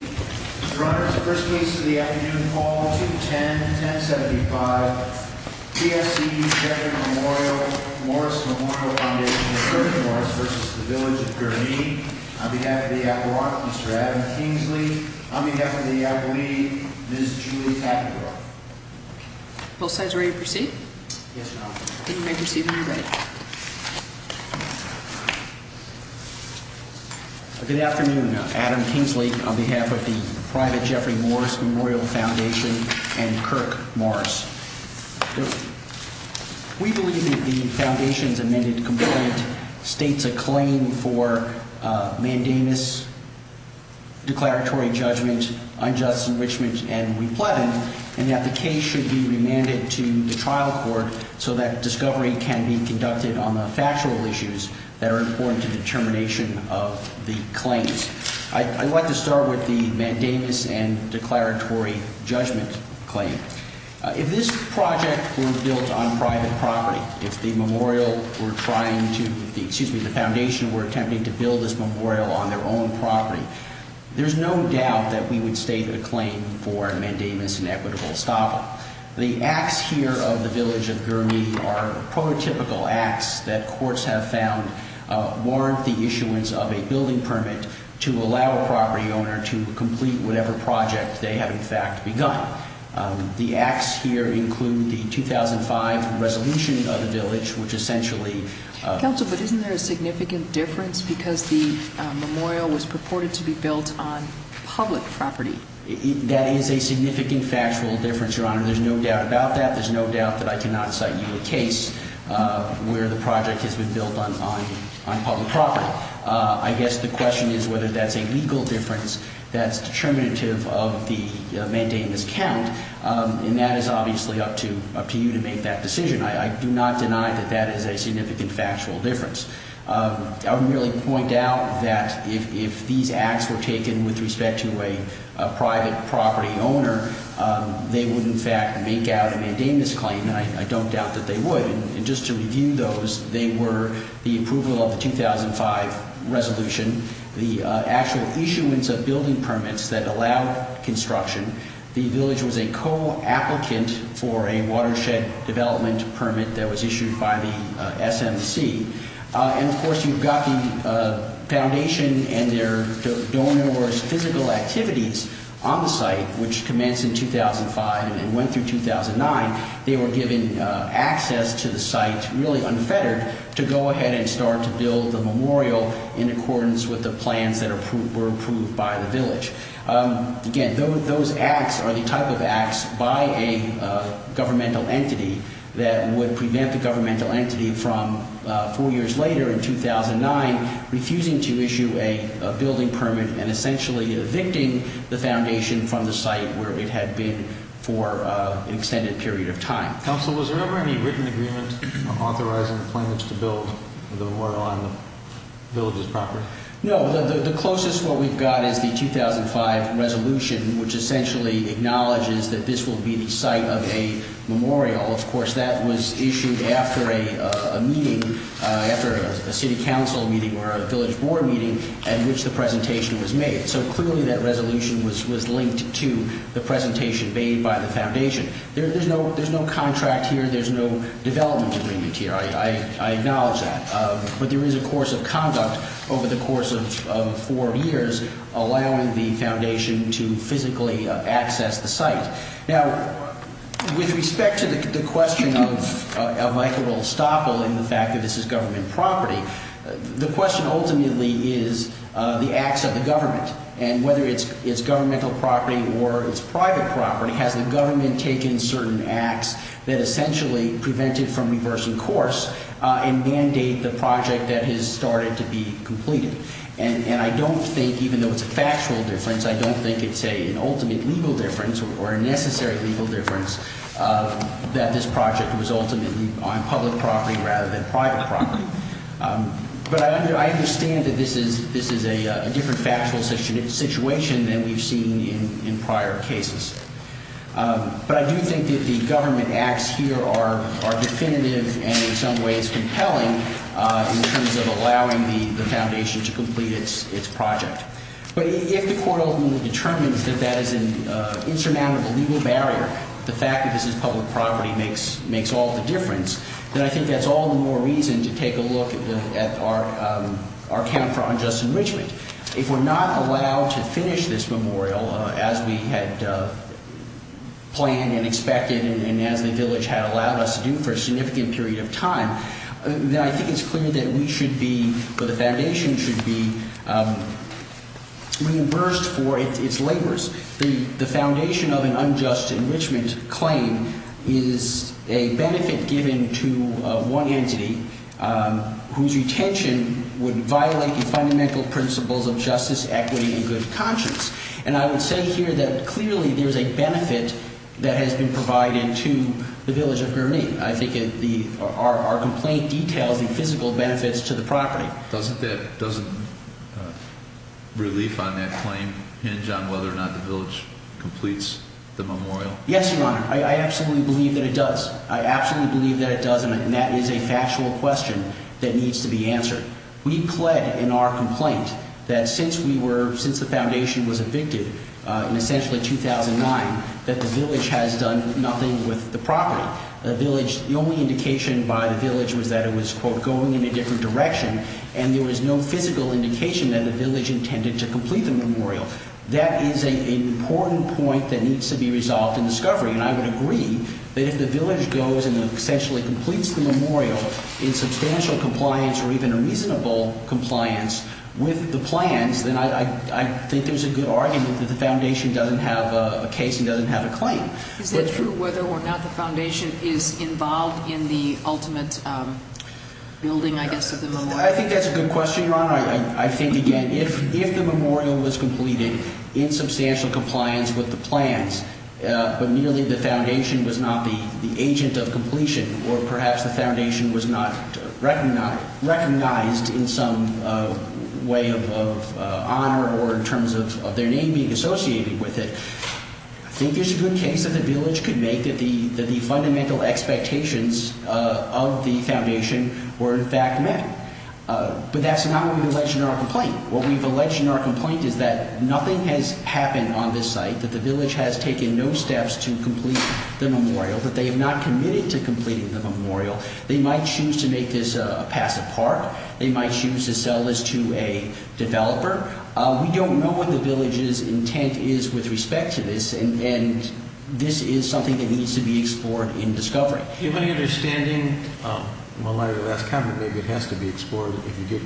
Your Honor, this is the first case of the afternoon, Fall 210-1075. P.S.C. Sheridan Memorial, Morris Memorial Foundation v. Village of Gurnee. On behalf of the Admiralty, Mr. Adam Kingsley. On behalf of the Admiralty, Ms. Julie Tapper. Both sides ready to proceed? Yes, Your Honor. Then you may proceed when you're ready. Good afternoon. Adam Kingsley on behalf of the Private Jeffrey Morris Memorial Foundation and Kirk Morris. We believe that the Foundation's amended complaint states a claim for mandamus, declaratory judgment, unjust enrichment, and repletion. And that the case should be remanded to the trial court so that discovery can be conducted on the factual issues that are important to the determination of the claims. I'd like to start with the mandamus and declaratory judgment claim. If this project were built on private property, if the foundation were attempting to build this memorial on their own property, there's no doubt that we would state a claim for mandamus and equitable estoppel. The acts here of the Village of Gurnee are prototypical acts that courts have found warrant the issuance of a building permit to allow a property owner to complete whatever project they have, in fact, begun. The acts here include the 2005 resolution of the Village, which essentially... That is a significant factual difference, Your Honor. There's no doubt about that. There's no doubt that I cannot cite you a case where the project has been built on public property. I guess the question is whether that's a legal difference that's determinative of the mandamus count. And that is obviously up to you to make that decision. I do not deny that that is a significant factual difference. I would merely point out that if these acts were taken with respect to a private property owner, they would, in fact, make out a mandamus claim, and I don't doubt that they would. And just to review those, they were the approval of the 2005 resolution, the actual issuance of building permits that allowed construction. The Village was a co-applicant for a watershed development permit that was issued by the SMC. And, of course, you've got the foundation and their donors' physical activities on the site, which commenced in 2005 and went through 2009. They were given access to the site, really unfettered, to go ahead and start to build the memorial in accordance with the plans that were approved by the Village. Again, those acts are the type of acts by a governmental entity that would prevent the governmental entity from, four years later in 2009, refusing to issue a building permit and essentially evicting the foundation from the site where it had been for an extended period of time. Counsel, was there ever any written agreement authorizing the Village to build the memorial on the Village's property? No. The closest what we've got is the 2005 resolution, which essentially acknowledges that this will be the site of a memorial. Of course, that was issued after a meeting, after a city council meeting or a Village board meeting at which the presentation was made. So, clearly, that resolution was linked to the presentation made by the foundation. There's no contract here. There's no development agreement here. I acknowledge that. But there is a course of conduct over the course of four years allowing the foundation to physically access the site. Now, with respect to the question of Michael Olstaple and the fact that this is government property, the question ultimately is the acts of the government. And whether it's governmental property or it's private property, has the government taken certain acts that essentially prevent it from reversing course and mandate the project that has started to be completed? And I don't think, even though it's a factual difference, I don't think it's an ultimate legal difference or a necessary legal difference that this project was ultimately on public property rather than private property. But I understand that this is a different factual situation than we've seen in prior cases. But I do think that the government acts here are definitive and, in some ways, compelling in terms of allowing the foundation to complete its project. But if the court ultimately determines that that is an insurmountable legal barrier, the fact that this is public property makes all the difference, then I think that's all the more reason to take a look at our account for unjust enrichment. If we're not allowed to finish this memorial as we had planned and expected and as the village had allowed us to do for a significant period of time, then I think it's clear that we should be, or the foundation should be, reimbursed for its labors. The foundation of an unjust enrichment claim is a benefit given to one entity whose retention would violate the fundamental principles of justice, equity, and good conscience. And I would say here that clearly there's a benefit that has been provided to the village of Gurnee. I think our complaint details the physical benefits to the property. Doesn't relief on that claim hinge on whether or not the village completes the memorial? Yes, Your Honor. I absolutely believe that it does. I absolutely believe that it does, and that is a factual question that needs to be answered. We pled in our complaint that since we were – since the foundation was evicted in essentially 2009, that the village has done nothing with the property. The only indication by the village was that it was, quote, going in a different direction, and there was no physical indication that the village intended to complete the memorial. That is an important point that needs to be resolved in discovery, and I would agree that if the village goes and essentially completes the memorial in substantial compliance or even a reasonable compliance with the plans, then I think there's a good argument that the foundation doesn't have a case and doesn't have a claim. Is that true whether or not the foundation is involved in the ultimate building, I guess, of the memorial? I think that's a good question, Your Honor. I think, again, if the memorial was completed in substantial compliance with the plans but merely the foundation was not the agent of completion or perhaps the foundation was not recognized in some way of honor or in terms of their name being associated with it, I think there's a good case that the village could make that the fundamental expectations of the foundation were in fact met. But that's not what we've alleged in our complaint. What we've alleged in our complaint is that nothing has happened on this site, that the village has taken no steps to complete the memorial, that they have not committed to completing the memorial. They might choose to make this a passive part. We don't know what the village's intent is with respect to this, and this is something that needs to be explored in discovery. Do you have any understanding, in light of the last comment, maybe it has to be explored if you get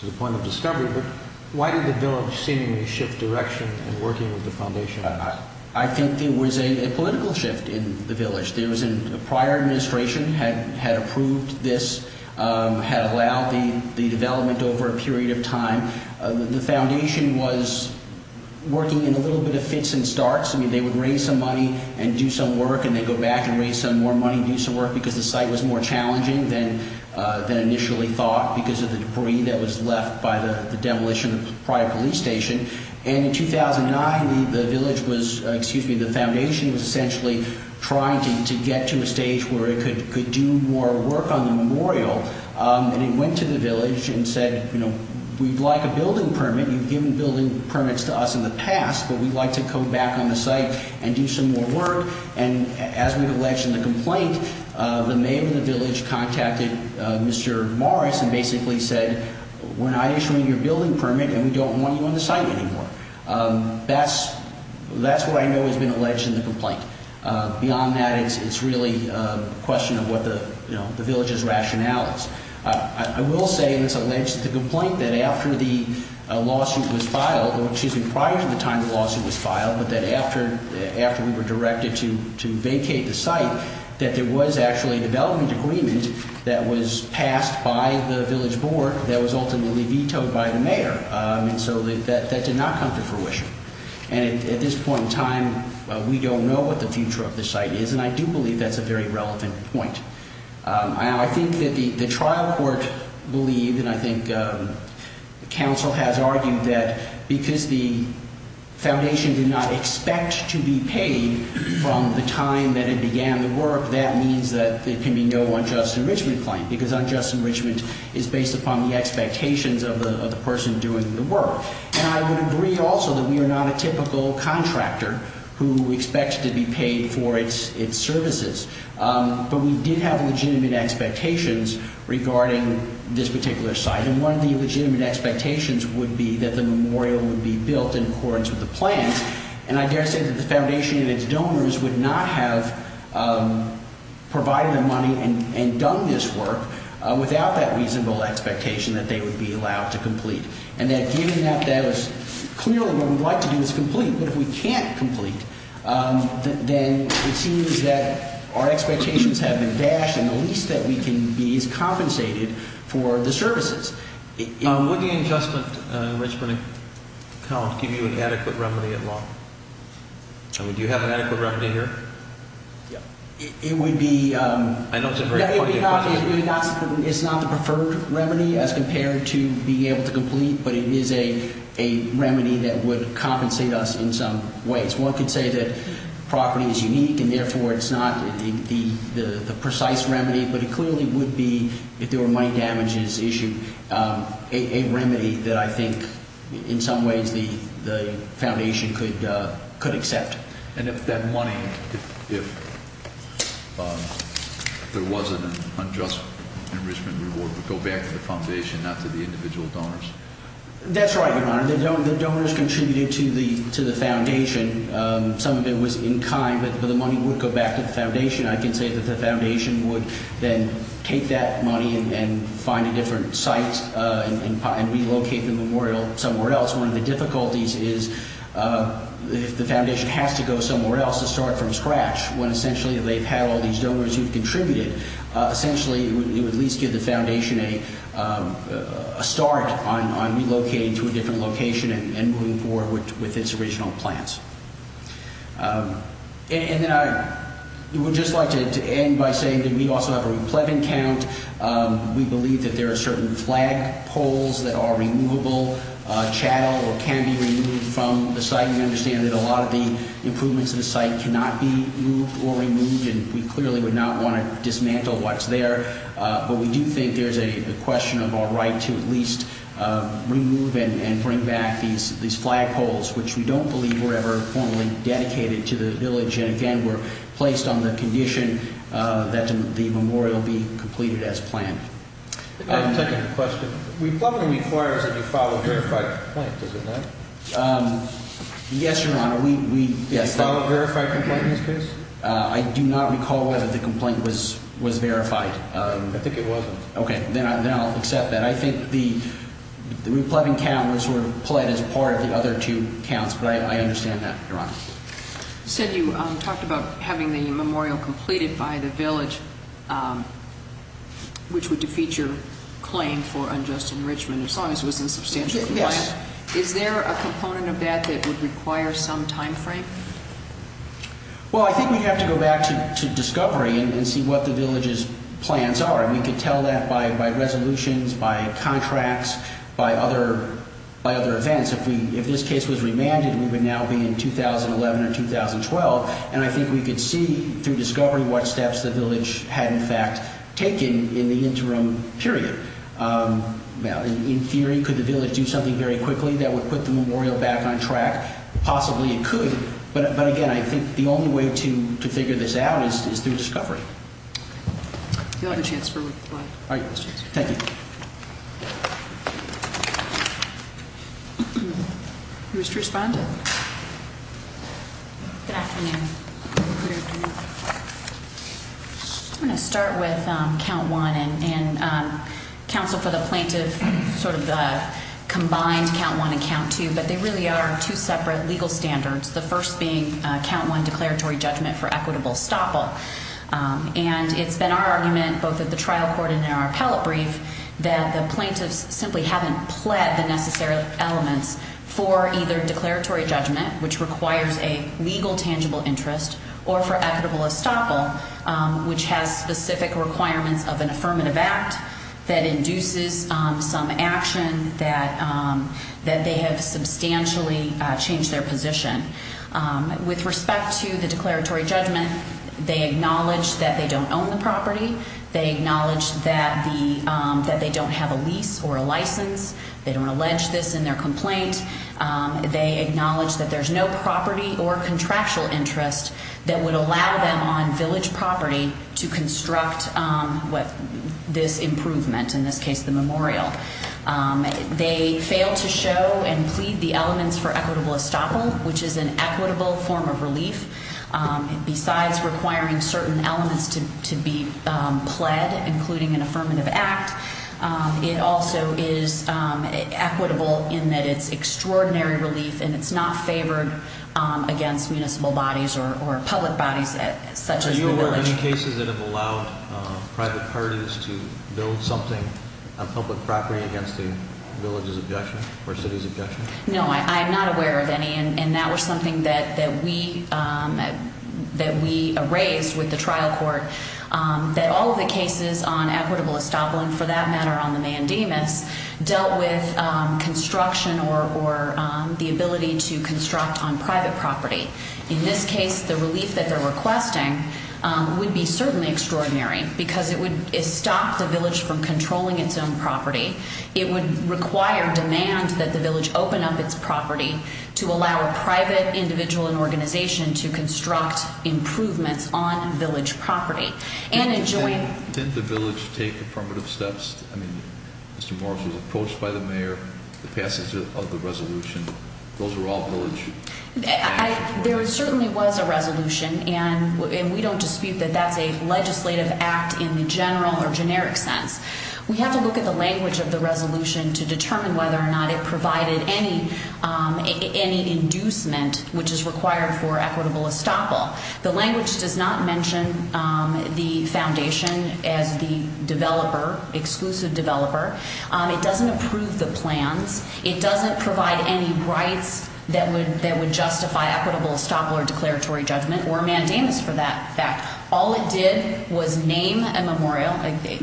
to the point of discovery, but why did the village seemingly shift direction in working with the foundation? I think there was a political shift in the village. There was a prior administration had approved this, had allowed the development over a period of time. The foundation was working in a little bit of fits and starts. I mean, they would raise some money and do some work and then go back and raise some more money and do some work because the site was more challenging than initially thought because of the debris that was left by the demolition of the prior police station. And in 2009, the village was, excuse me, the foundation was essentially trying to get to a stage where it could do more work on the memorial. And it went to the village and said, you know, we'd like a building permit. You've given building permits to us in the past, but we'd like to come back on the site and do some more work. And as we've alleged in the complaint, the mayor of the village contacted Mr. Morris and basically said, we're not issuing you a building permit and we don't want you on the site anymore. That's what I know has been alleged in the complaint. Beyond that, it's really a question of what the village's rationale is. I will say, and it's alleged in the complaint, that after the lawsuit was filed, or excuse me, prior to the time the lawsuit was filed, but that after we were directed to vacate the site, that there was actually a development agreement that was passed by the village board that was ultimately vetoed by the mayor. And so that did not come to fruition. And at this point in time, we don't know what the future of the site is. And I do believe that's a very relevant point. I think that the trial court believed, and I think counsel has argued, that because the foundation did not expect to be paid from the time that it began the work, that means that there can be no unjust enrichment claim. Because unjust enrichment is based upon the expectations of the person doing the work. And I would agree also that we are not a typical contractor who expects to be paid for its services. But we did have legitimate expectations regarding this particular site. And one of the legitimate expectations would be that the memorial would be built in accordance with the plans. And I dare say that the foundation and its donors would not have provided the money and done this work without that reasonable expectation that they would be allowed to complete. And that given that that was clearly what we'd like to do is complete. But if we can't complete, then it seems that our expectations have been dashed. And the least that we can do is compensate it for the services. Would the unjust enrichment account give you an adequate remedy at law? I mean, do you have an adequate remedy here? Yeah. It would be- I know it's a very pointed question. It's not the preferred remedy as compared to being able to complete. But it is a remedy that would compensate us in some ways. One could say that property is unique and therefore it's not the precise remedy. But it clearly would be, if there were money damages issued, a remedy that I think in some ways the foundation could accept. And if that money- If there wasn't an unjust enrichment reward would go back to the foundation, not to the individual donors. That's right, Your Honor. The donors contributed to the foundation. Some of it was in kind, but the money would go back to the foundation. I can say that the foundation would then take that money and find a different site and relocate the memorial somewhere else. One of the difficulties is if the foundation has to go somewhere else to start from scratch, when essentially they've had all these donors who've contributed, essentially it would at least give the foundation a start on relocating to a different location and moving forward with its original plans. And then I would just like to end by saying that we also have a ruplevin count. We believe that there are certain flag poles that are removable, chattel or can be removed from the site. We understand that a lot of the improvements to the site cannot be moved or removed, and we clearly would not want to dismantle what's there. But we do think there's a question of our right to at least remove and bring back these flag poles, which we don't believe were ever formally dedicated to the village. And again, we're placed on the condition that the memorial be completed as planned. I have a second question. Ruplevin requires that you file a verified complaint, doesn't it? Yes, Your Honor. Did you file a verified complaint in this case? I do not recall whether the complaint was verified. I think it wasn't. Okay. Then I'll accept that. I think the ruplevin count was played as part of the other two counts, but I understand that, Your Honor. You said you talked about having the memorial completed by the village, which would defeat your claim for unjust enrichment, as long as it was in substantial compliance. Yes. Is there a component of that that would require some time frame? Well, I think we'd have to go back to discovery and see what the village's plans are. We could tell that by resolutions, by contracts, by other events. If this case was remanded, we would now be in 2011 or 2012, and I think we could see through discovery what steps the village had, in fact, taken in the interim period. In theory, could the village do something very quickly that would put the memorial back on track? Possibly it could. But, again, I think the only way to figure this out is through discovery. Do you have a chance for one? Thank you. Mr. Respondent. Good afternoon. Good afternoon. I'm going to start with count one and counsel for the plaintiff, sort of the combined count one and count two, but they really are two separate legal standards, the first being count one declaratory judgment for equitable estoppel. And it's been our argument, both at the trial court and in our appellate brief, that the plaintiffs simply haven't pled the necessary elements for either declaratory judgment, which requires a legal tangible interest, or for equitable estoppel, which has specific requirements of an affirmative act that induces some action, that they have substantially changed their position. With respect to the declaratory judgment, they acknowledge that they don't own the property. They acknowledge that they don't have a lease or a license. They don't allege this in their complaint. They acknowledge that there's no property or contractual interest that would allow them on village property to construct this improvement, in this case the memorial. They fail to show and plead the elements for equitable estoppel, which is an equitable form of relief. Besides requiring certain elements to be pled, including an affirmative act, it also is equitable in that it's extraordinary relief, and it's not favored against municipal bodies or public bodies such as the village. Are there any cases that have allowed private parties to build something on public property against the village's objection or city's objection? No, I'm not aware of any, and that was something that we raised with the trial court, that all of the cases on equitable estoppel, and for that matter on the mandamus, dealt with construction or the ability to construct on private property. In this case, the relief that they're requesting would be certainly extraordinary because it would stop the village from controlling its own property. It would require demand that the village open up its property to allow a private individual and organization to construct improvements on village property. Didn't the village take affirmative steps? I mean, Mr. Morris was approached by the mayor, the passage of the resolution. Those were all village. There certainly was a resolution, and we don't dispute that that's a legislative act in the general or generic sense. We have to look at the language of the resolution to determine whether or not it provided any inducement which is required for equitable estoppel. The language does not mention the foundation as the developer, exclusive developer. It doesn't approve the plans. It doesn't provide any rights that would justify equitable estoppel or declaratory judgment or mandamus for that fact. All it did was name a memorial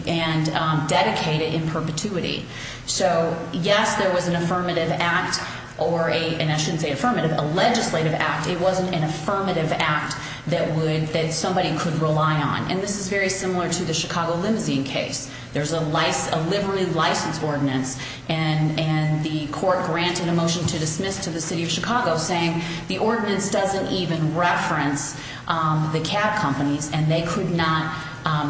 and dedicate it in perpetuity. So, yes, there was an affirmative act, and I shouldn't say affirmative, a legislative act. It wasn't an affirmative act that somebody could rely on, and this is very similar to the Chicago limousine case. There's a livery license ordinance, and the court granted a motion to dismiss to the city of Chicago saying the ordinance doesn't even reference the cab companies, and they could not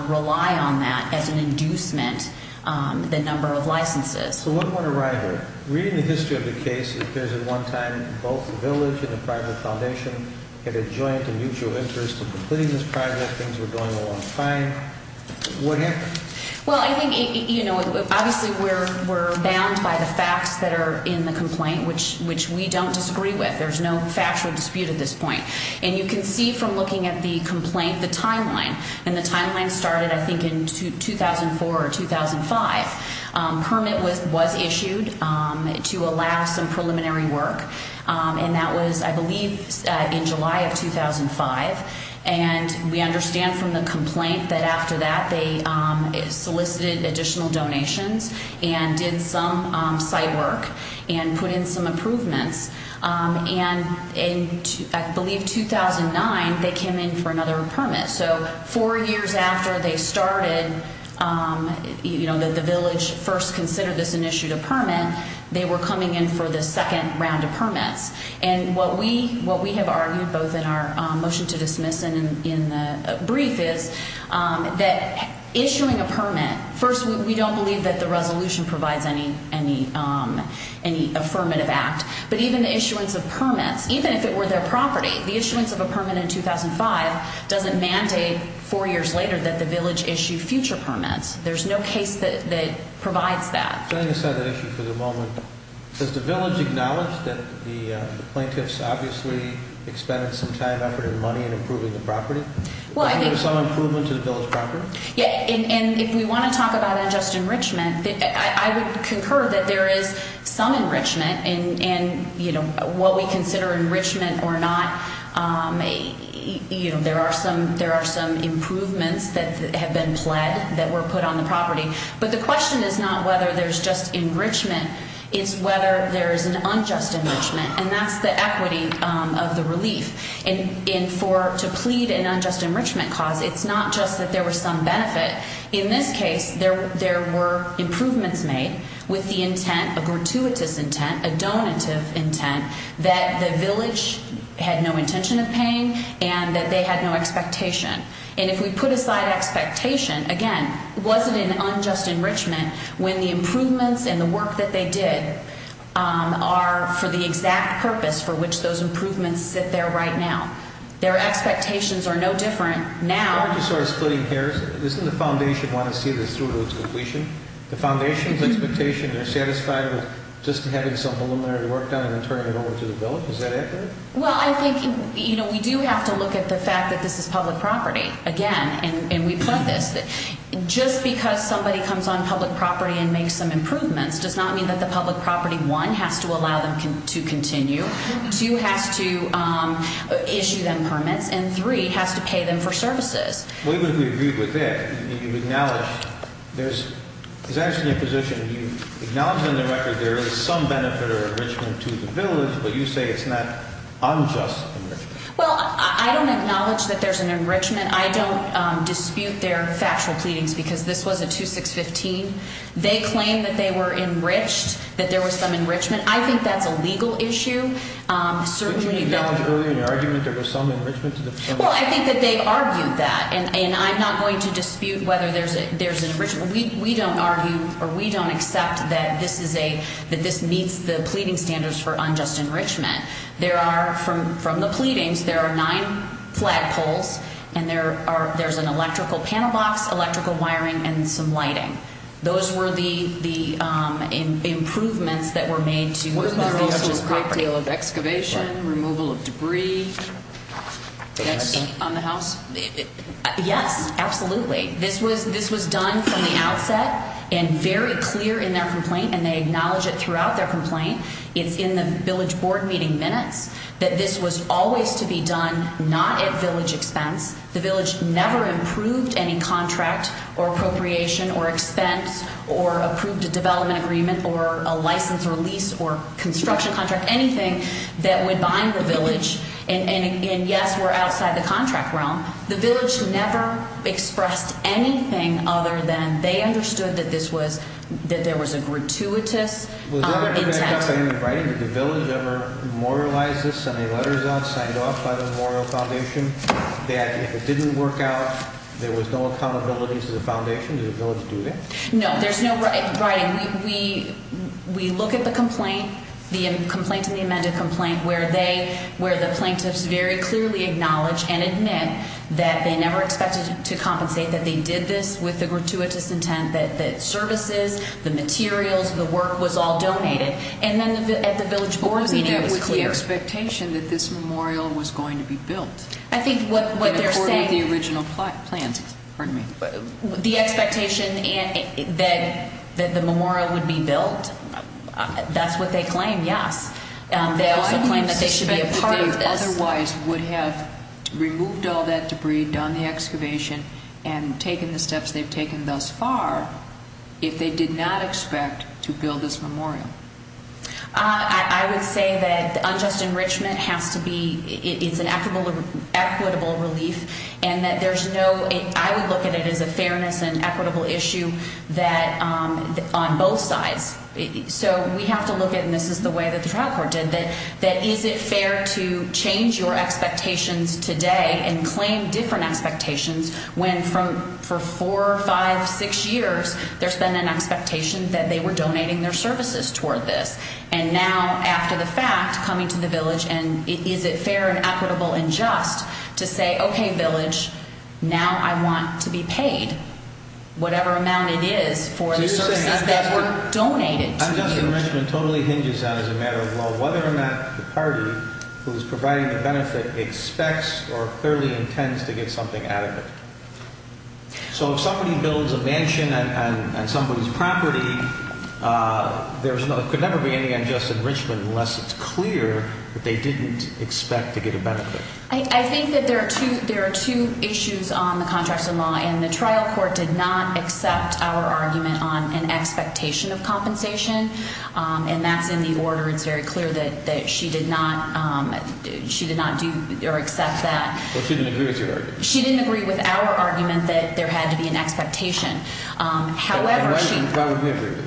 rely on that as an inducement, the number of licenses. So one more to write here. Reading the history of the case, it appears at one time both the village and the private foundation had a joint and mutual interest in completing this project. Things were going along fine. What happened? Well, I think, you know, obviously we're bound by the facts that are in the complaint, which we don't disagree with. There's no factual dispute at this point. And you can see from looking at the complaint the timeline, and the timeline started, I think, in 2004 or 2005. Permit was issued to allow some preliminary work, and that was, I believe, in July of 2005. And we understand from the complaint that after that they solicited additional donations and did some site work and put in some improvements. And in, I believe, 2009 they came in for another permit. So four years after they started, you know, the village first considered this and issued a permit, they were coming in for the second round of permits. And what we have argued both in our motion to dismiss and in the brief is that issuing a permit, first we don't believe that the resolution provides any affirmative act, but even the issuance of permits, even if it were their property, the issuance of a permit in 2005 doesn't mandate four years later that the village issue future permits. There's no case that provides that. Setting aside that issue for the moment, does the village acknowledge that the plaintiffs obviously expended some time, effort, and money in improving the property? Was there some improvement to the village property? Yeah. And if we want to talk about unjust enrichment, I would concur that there is some enrichment. And, you know, what we consider enrichment or not, you know, there are some improvements that have been pled that were put on the property. But the question is not whether there's just enrichment. It's whether there is an unjust enrichment, and that's the equity of the relief. And for to plead an unjust enrichment cause, it's not just that there was some benefit. In this case, there were improvements made with the intent, a gratuitous intent, a donative intent that the village had no intention of paying and that they had no expectation. And if we put aside expectation, again, was it an unjust enrichment when the improvements and the work that they did are for the exact purpose for which those improvements sit there right now? Their expectations are no different now. Why don't you start splitting hairs? Doesn't the foundation want to see this through to its completion? The foundation's expectation, they're satisfied with just having some preliminary work done and then turning it over to the village. Is that accurate? Well, I think, you know, we do have to look at the fact that this is public property. Again, and we've said this, just because somebody comes on public property and makes some improvements does not mean that the public property, one, has to allow them to continue, two, has to issue them permits, and three, has to pay them for services. We would agree with that. You acknowledge there's actually a position. You acknowledge on the record there is some benefit or enrichment to the village, but you say it's not unjust enrichment. Well, I don't acknowledge that there's an enrichment. I don't dispute their factual pleadings because this was a 2615. They claim that they were enriched, that there was some enrichment. I think that's a legal issue. But you acknowledge earlier in your argument there was some enrichment to the permit? Well, I think that they argued that, and I'm not going to dispute whether there's an enrichment. We don't argue or we don't accept that this meets the pleading standards for unjust enrichment. From the pleadings, there are nine flag poles, and there's an electrical panel box, electrical wiring, and some lighting. Those were the improvements that were made to the village's property. Was there also a great deal of excavation, removal of debris on the house? Yes, absolutely. This was done from the outset and very clear in their complaint, and they acknowledge it throughout their complaint. It's in the village board meeting minutes that this was always to be done not at village expense. The village never approved any contract or appropriation or expense or approved a development agreement or a license release or construction contract, anything that would bind the village. And, yes, we're outside the contract realm. The village never expressed anything other than they understood that this was – that there was a gratuitous intent. Was there any back-up in the writing? Did the village ever memorialize this, send any letters out, signed off by the memorial foundation, that if it didn't work out, there was no accountability to the foundation? Did the village do that? No, there's no writing. We look at the complaint, the complaint in the amended complaint, where they – where the plaintiffs very clearly acknowledge and admit that they never expected to compensate, that they did this with the gratuitous intent, that services, the materials, the work was all donated. And then at the village board meeting, it was clear. Wasn't that with the expectation that this memorial was going to be built? I think what they're saying – And according to the original plans, pardon me. The expectation that the memorial would be built, that's what they claim, yes. They also claim that they should be a part of this. They otherwise would have removed all that debris, done the excavation, and taken the steps they've taken thus far if they did not expect to build this memorial. I would say that the unjust enrichment has to be – it's an equitable relief, and that there's no – I would look at it as a fairness and equitable issue that – on both sides. So we have to look at – and this is the way that the trial court did – that is it fair to change your expectations today and claim different expectations when for four, five, six years there's been an expectation that they were donating their services toward this? And now, after the fact, coming to the village and is it fair and equitable and just to say, okay, village, now I want to be paid whatever amount it is for the services that were donated to you? Unjust enrichment totally hinges on, as a matter of law, whether or not the party who's providing the benefit expects or clearly intends to get something out of it. So if somebody builds a mansion on somebody's property, there could never be any unjust enrichment unless it's clear that they didn't expect to get a benefit. I think that there are two issues on the contracts of law, and the trial court did not accept our argument on an expectation of compensation, and that's in the order. It's very clear that she did not – she did not do or accept that. Well, she didn't agree with your argument. She didn't agree with our argument that there had to be an expectation. However, she – Why would we agree with it?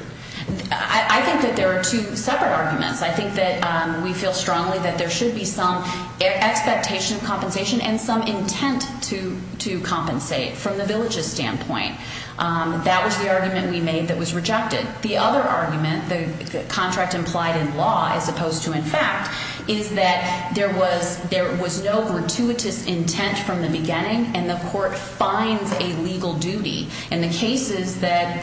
I think that there are two separate arguments. I think that we feel strongly that there should be some expectation of compensation and some intent to compensate from the village's standpoint. That was the argument we made that was rejected. The other argument, the contract implied in law as opposed to in fact, is that there was no gratuitous intent from the beginning, and the court finds a legal duty. In the cases that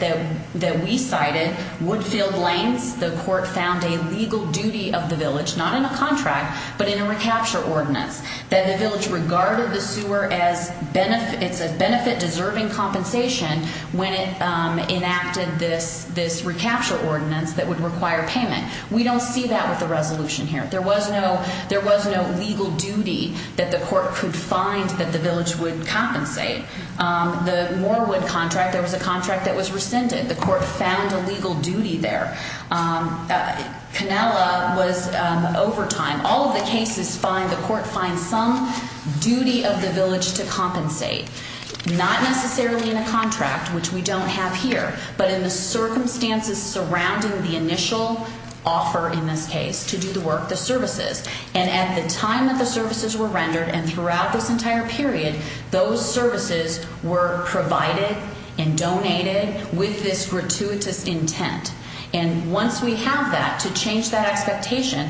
we cited, Woodfield Lanes, the court found a legal duty of the village, not in a contract, but in a recapture ordinance, that the village regarded the sewer as a benefit-deserving compensation when it enacted this recapture ordinance that would require payment. We don't see that with the resolution here. There was no legal duty that the court could find that the village would compensate. The Morewood contract, there was a contract that was rescinded. The court found a legal duty there. Canella was overtime. All of the cases find the court finds some duty of the village to compensate, not necessarily in a contract, which we don't have here, but in the circumstances surrounding the initial offer in this case to do the work, the services. And at the time that the services were rendered and throughout this entire period, those services were provided and donated with this gratuitous intent. And once we have that, to change that expectation,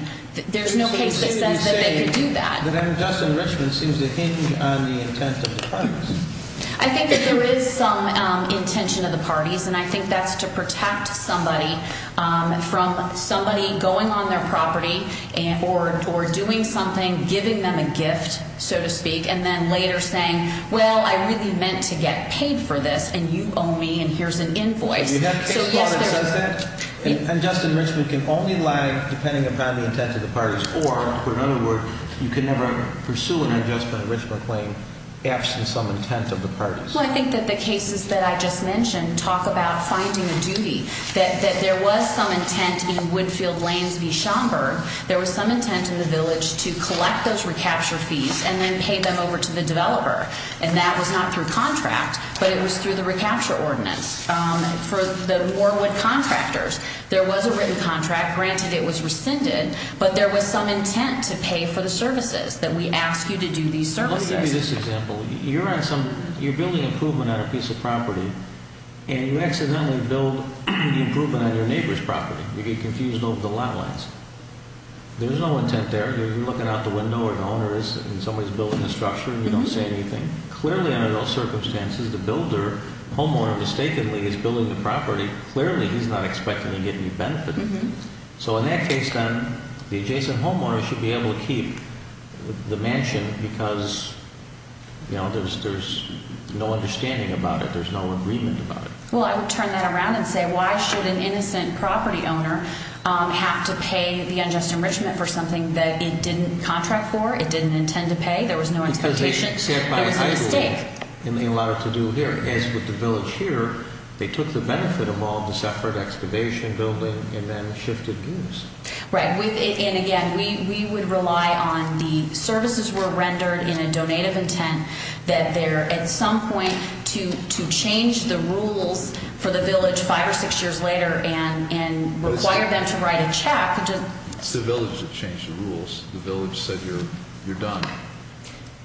there's no case that says that they could do that. But I'm guessing Richmond seems to hinge on the intent of the parties. I think that there is some intention of the parties, and I think that's to protect somebody from somebody going on their property or doing something, giving them a gift, so to speak, and then later saying, well, I really meant to get paid for this, and you owe me, and here's an invoice. You have a case law that says that? And, Justin, Richmond can only lie depending upon the intent of the parties, or, for another word, you can never pursue an adjustment of Richmond claim absent some intent of the parties. Well, I think that the cases that I just mentioned talk about finding a duty, that there was some intent in Woodfield Lanes v. Schomburg. There was some intent in the village to collect those recapture fees and then pay them over to the developer, and that was not through contract, but it was through the recapture ordinance. For the Warwood contractors, there was a written contract. Granted, it was rescinded, but there was some intent to pay for the services, that we ask you to do these services. Let me give you this example. You're building improvement on a piece of property, and you accidentally build improvement on your neighbor's property. You get confused over the lot lines. There's no intent there. You're looking out the window where the owner is, and somebody's building the structure, and you don't say anything. Clearly, under those circumstances, the builder, homeowner, mistakenly is building the property. Clearly, he's not expecting to get any benefit. So in that case, then, the adjacent homeowner should be able to keep the mansion because there's no understanding about it. There's no agreement about it. Well, I would turn that around and say, why should an innocent property owner have to pay the unjust enrichment for something that it didn't contract for, it didn't intend to pay, there was no expectation, there was a mistake. And they allowed it to do here. As with the village here, they took the benefit of all this effort, excavation, building, and then shifted views. Right, and again, we would rely on the services were rendered in a donated intent that they're at some point to change the rules for the village five or six years later and require them to write a check. It's the village that changed the rules. The village said you're done.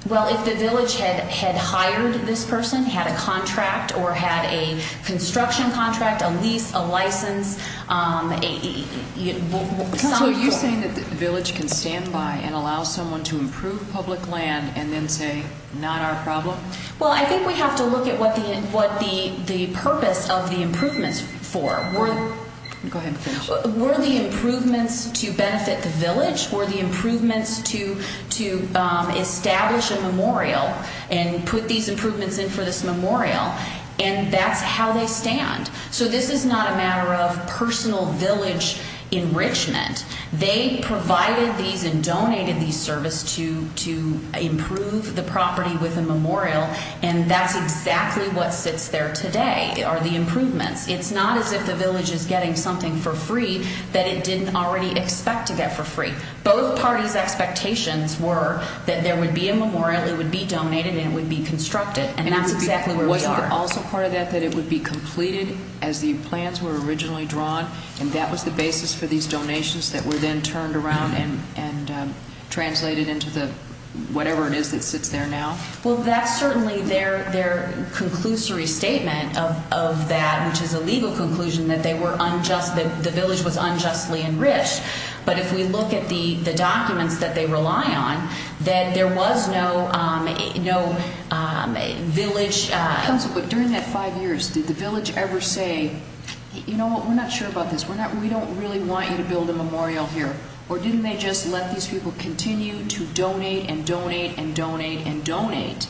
Well, if the village had hired this person, had a contract or had a construction contract, a lease, a license. So are you saying that the village can stand by and allow someone to improve public land and then say, not our problem? Well, I think we have to look at what the purpose of the improvements for. Go ahead and finish. Were the improvements to benefit the village? Were the improvements to establish a memorial and put these improvements in for this memorial? And that's how they stand. So this is not a matter of personal village enrichment. They provided these and donated these services to improve the property with a memorial, and that's exactly what sits there today are the improvements. It's not as if the village is getting something for free that it didn't already expect to get for free. Both parties' expectations were that there would be a memorial, it would be donated, and it would be constructed, and that's exactly where we are. Is there also part of that that it would be completed as the plans were originally drawn, and that was the basis for these donations that were then turned around and translated into the whatever it is that sits there now? Well, that's certainly their conclusory statement of that, which is a legal conclusion that they were unjust, that the village was unjustly enriched. But if we look at the documents that they rely on, that there was no village. Councilwoman, during that five years, did the village ever say, you know what, we're not sure about this, we don't really want you to build a memorial here? Or didn't they just let these people continue to donate and donate and donate and donate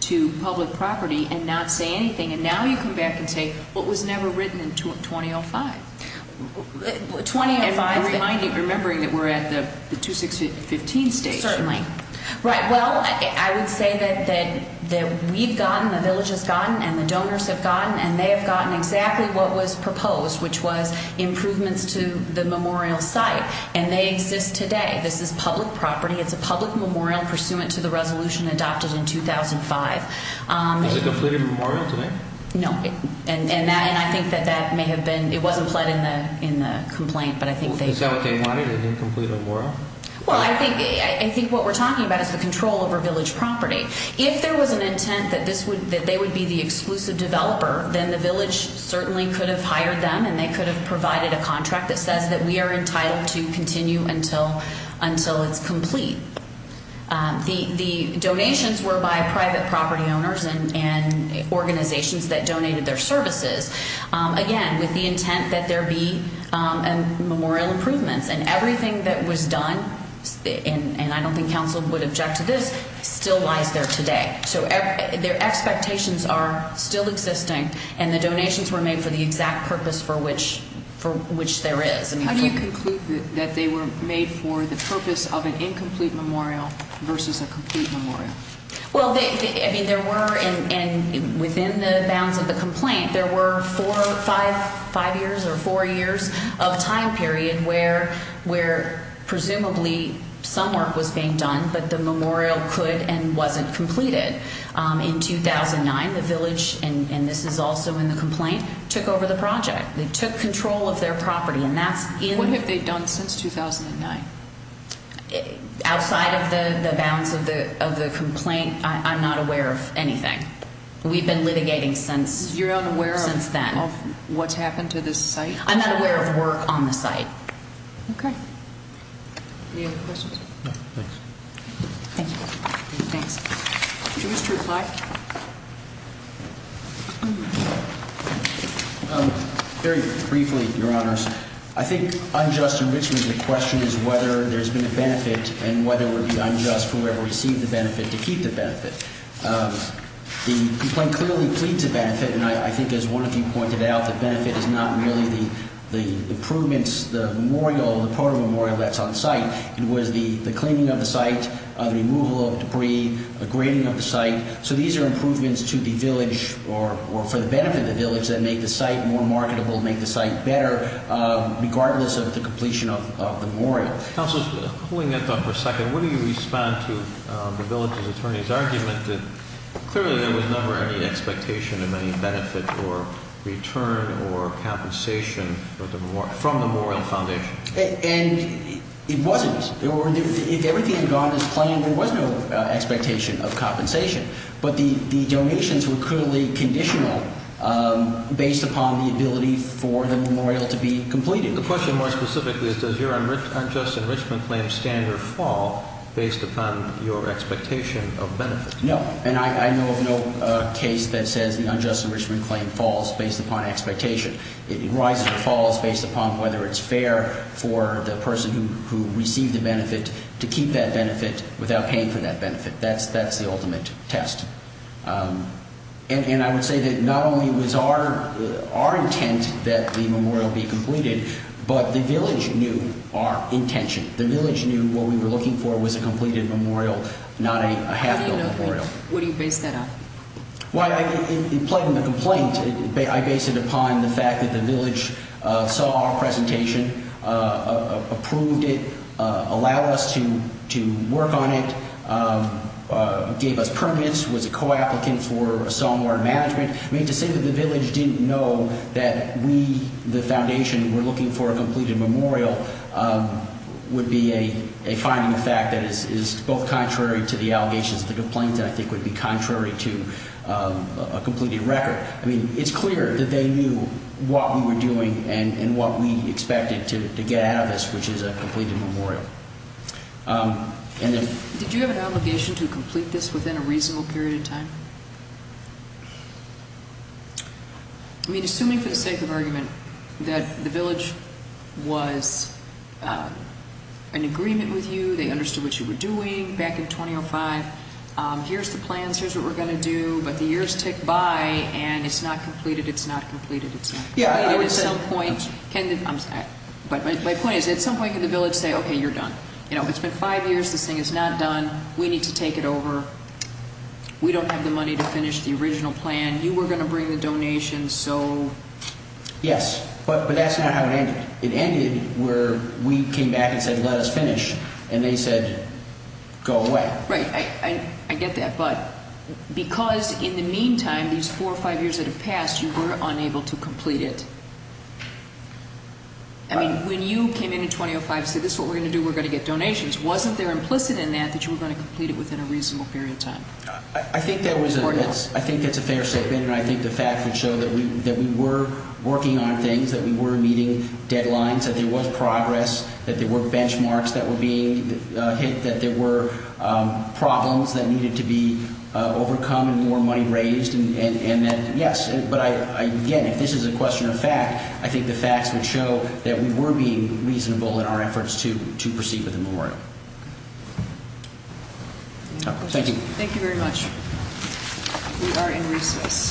to public property and not say anything? And now you come back and say, well, it was never written in 2005. Remembering that we're at the 2016-15 stage. Certainly. Right. Well, I would say that we've gotten, the village has gotten, and the donors have gotten, and they have gotten exactly what was proposed, which was improvements to the memorial site. And they exist today. This is public property. It's a public memorial pursuant to the resolution adopted in 2005. Is it a completed memorial today? No. Right. And I think that that may have been, it wasn't pled in the complaint. Is that what they wanted, a completed memorial? Well, I think what we're talking about is the control over village property. If there was an intent that they would be the exclusive developer, then the village certainly could have hired them and they could have provided a contract that says that we are entitled to continue until it's complete. The donations were by private property owners and organizations that donated their services, again, with the intent that there be memorial improvements. And everything that was done, and I don't think counsel would object to this, still lies there today. So their expectations are still existing, and the donations were made for the exact purpose for which there is. How do you conclude that they were made for the purpose of an incomplete memorial versus a complete memorial? Well, I mean, there were, and within the bounds of the complaint, there were four or five years or four years of time period where presumably some work was being done, but the memorial could and wasn't completed. In 2009, the village, and this is also in the complaint, took over the project. They took control of their property. What have they done since 2009? Outside of the bounds of the complaint, I'm not aware of anything. We've been litigating since then. You're unaware of what's happened to this site? I'm not aware of work on the site. Okay. Any other questions? No, thanks. Thank you. Thanks. Did you wish to reply? Very briefly, Your Honors. I think unjust enrichment of the question is whether there's been a benefit and whether it would be unjust for whoever received the benefit to keep the benefit. The complaint clearly pleads a benefit, and I think as one of you pointed out, the benefit is not really the improvements, the memorial, the photo memorial that's on site. It was the cleaning of the site, the removal of debris, the grading of the site. So these are improvements to the village or for the benefit of the village that make the site more marketable, make the site better, regardless of the completion of the memorial. Counsel, pulling that thought for a second, what do you respond to the village's attorney's argument that clearly there was never any expectation of any benefit or return or compensation from the memorial foundation? And it wasn't. If everything had gone as planned, there was no expectation of compensation. But the donations were clearly conditional based upon the ability for the memorial to be completed. The question more specifically is does your unjust enrichment claim stand or fall based upon your expectation of benefit? No. And I know of no case that says the unjust enrichment claim falls based upon expectation. It rises or falls based upon whether it's fair for the person who received the benefit to keep that benefit without paying for that benefit. That's the ultimate test. And I would say that not only was our intent that the memorial be completed, but the village knew our intention. The village knew what we were looking for was a completed memorial, not a half-built memorial. What do you base that on? Well, in plugging the complaint, I base it upon the fact that the village saw our presentation, approved it, allowed us to work on it, gave us permits, was a co-applicant for a somewhat management. I mean, to say that the village didn't know that we, the foundation, were looking for a completed memorial would be a finding of fact that is both contrary to the allegations of the complaint and I think would be contrary to a completed record. I mean, it's clear that they knew what we were doing and what we expected to get out of this, which is a completed memorial. Did you have an obligation to complete this within a reasonable period of time? I mean, assuming for the sake of argument that the village was in agreement with you, they understood what you were doing back in 2005, here's the plans, here's what we're going to do, but the years tick by and it's not completed, it's not completed. My point is, at some point can the village say, okay, you're done. It's been five years, this thing is not done, we need to take it over, we don't have the money to finish the original plan, you were going to bring the donations, so... Yes, but that's not how it ended. It ended where we came back and said, let us finish, and they said, go away. Right, I get that, but because in the meantime, these four or five years that have passed, you were unable to complete it. I mean, when you came in in 2005 and said, this is what we're going to do, we're going to get donations, wasn't there implicit in that that you were going to complete it within a reasonable period of time? I think that's a fair statement, and I think the facts would show that we were working on things, that we were meeting deadlines, that there was progress, that there were benchmarks that were being hit, that there were problems that needed to be overcome and more money raised, and yes, but again, if this is a question of fact, I think the facts would show that we were being reasonable in our efforts to proceed with the memorial. Thank you. Thank you very much. We are in recess.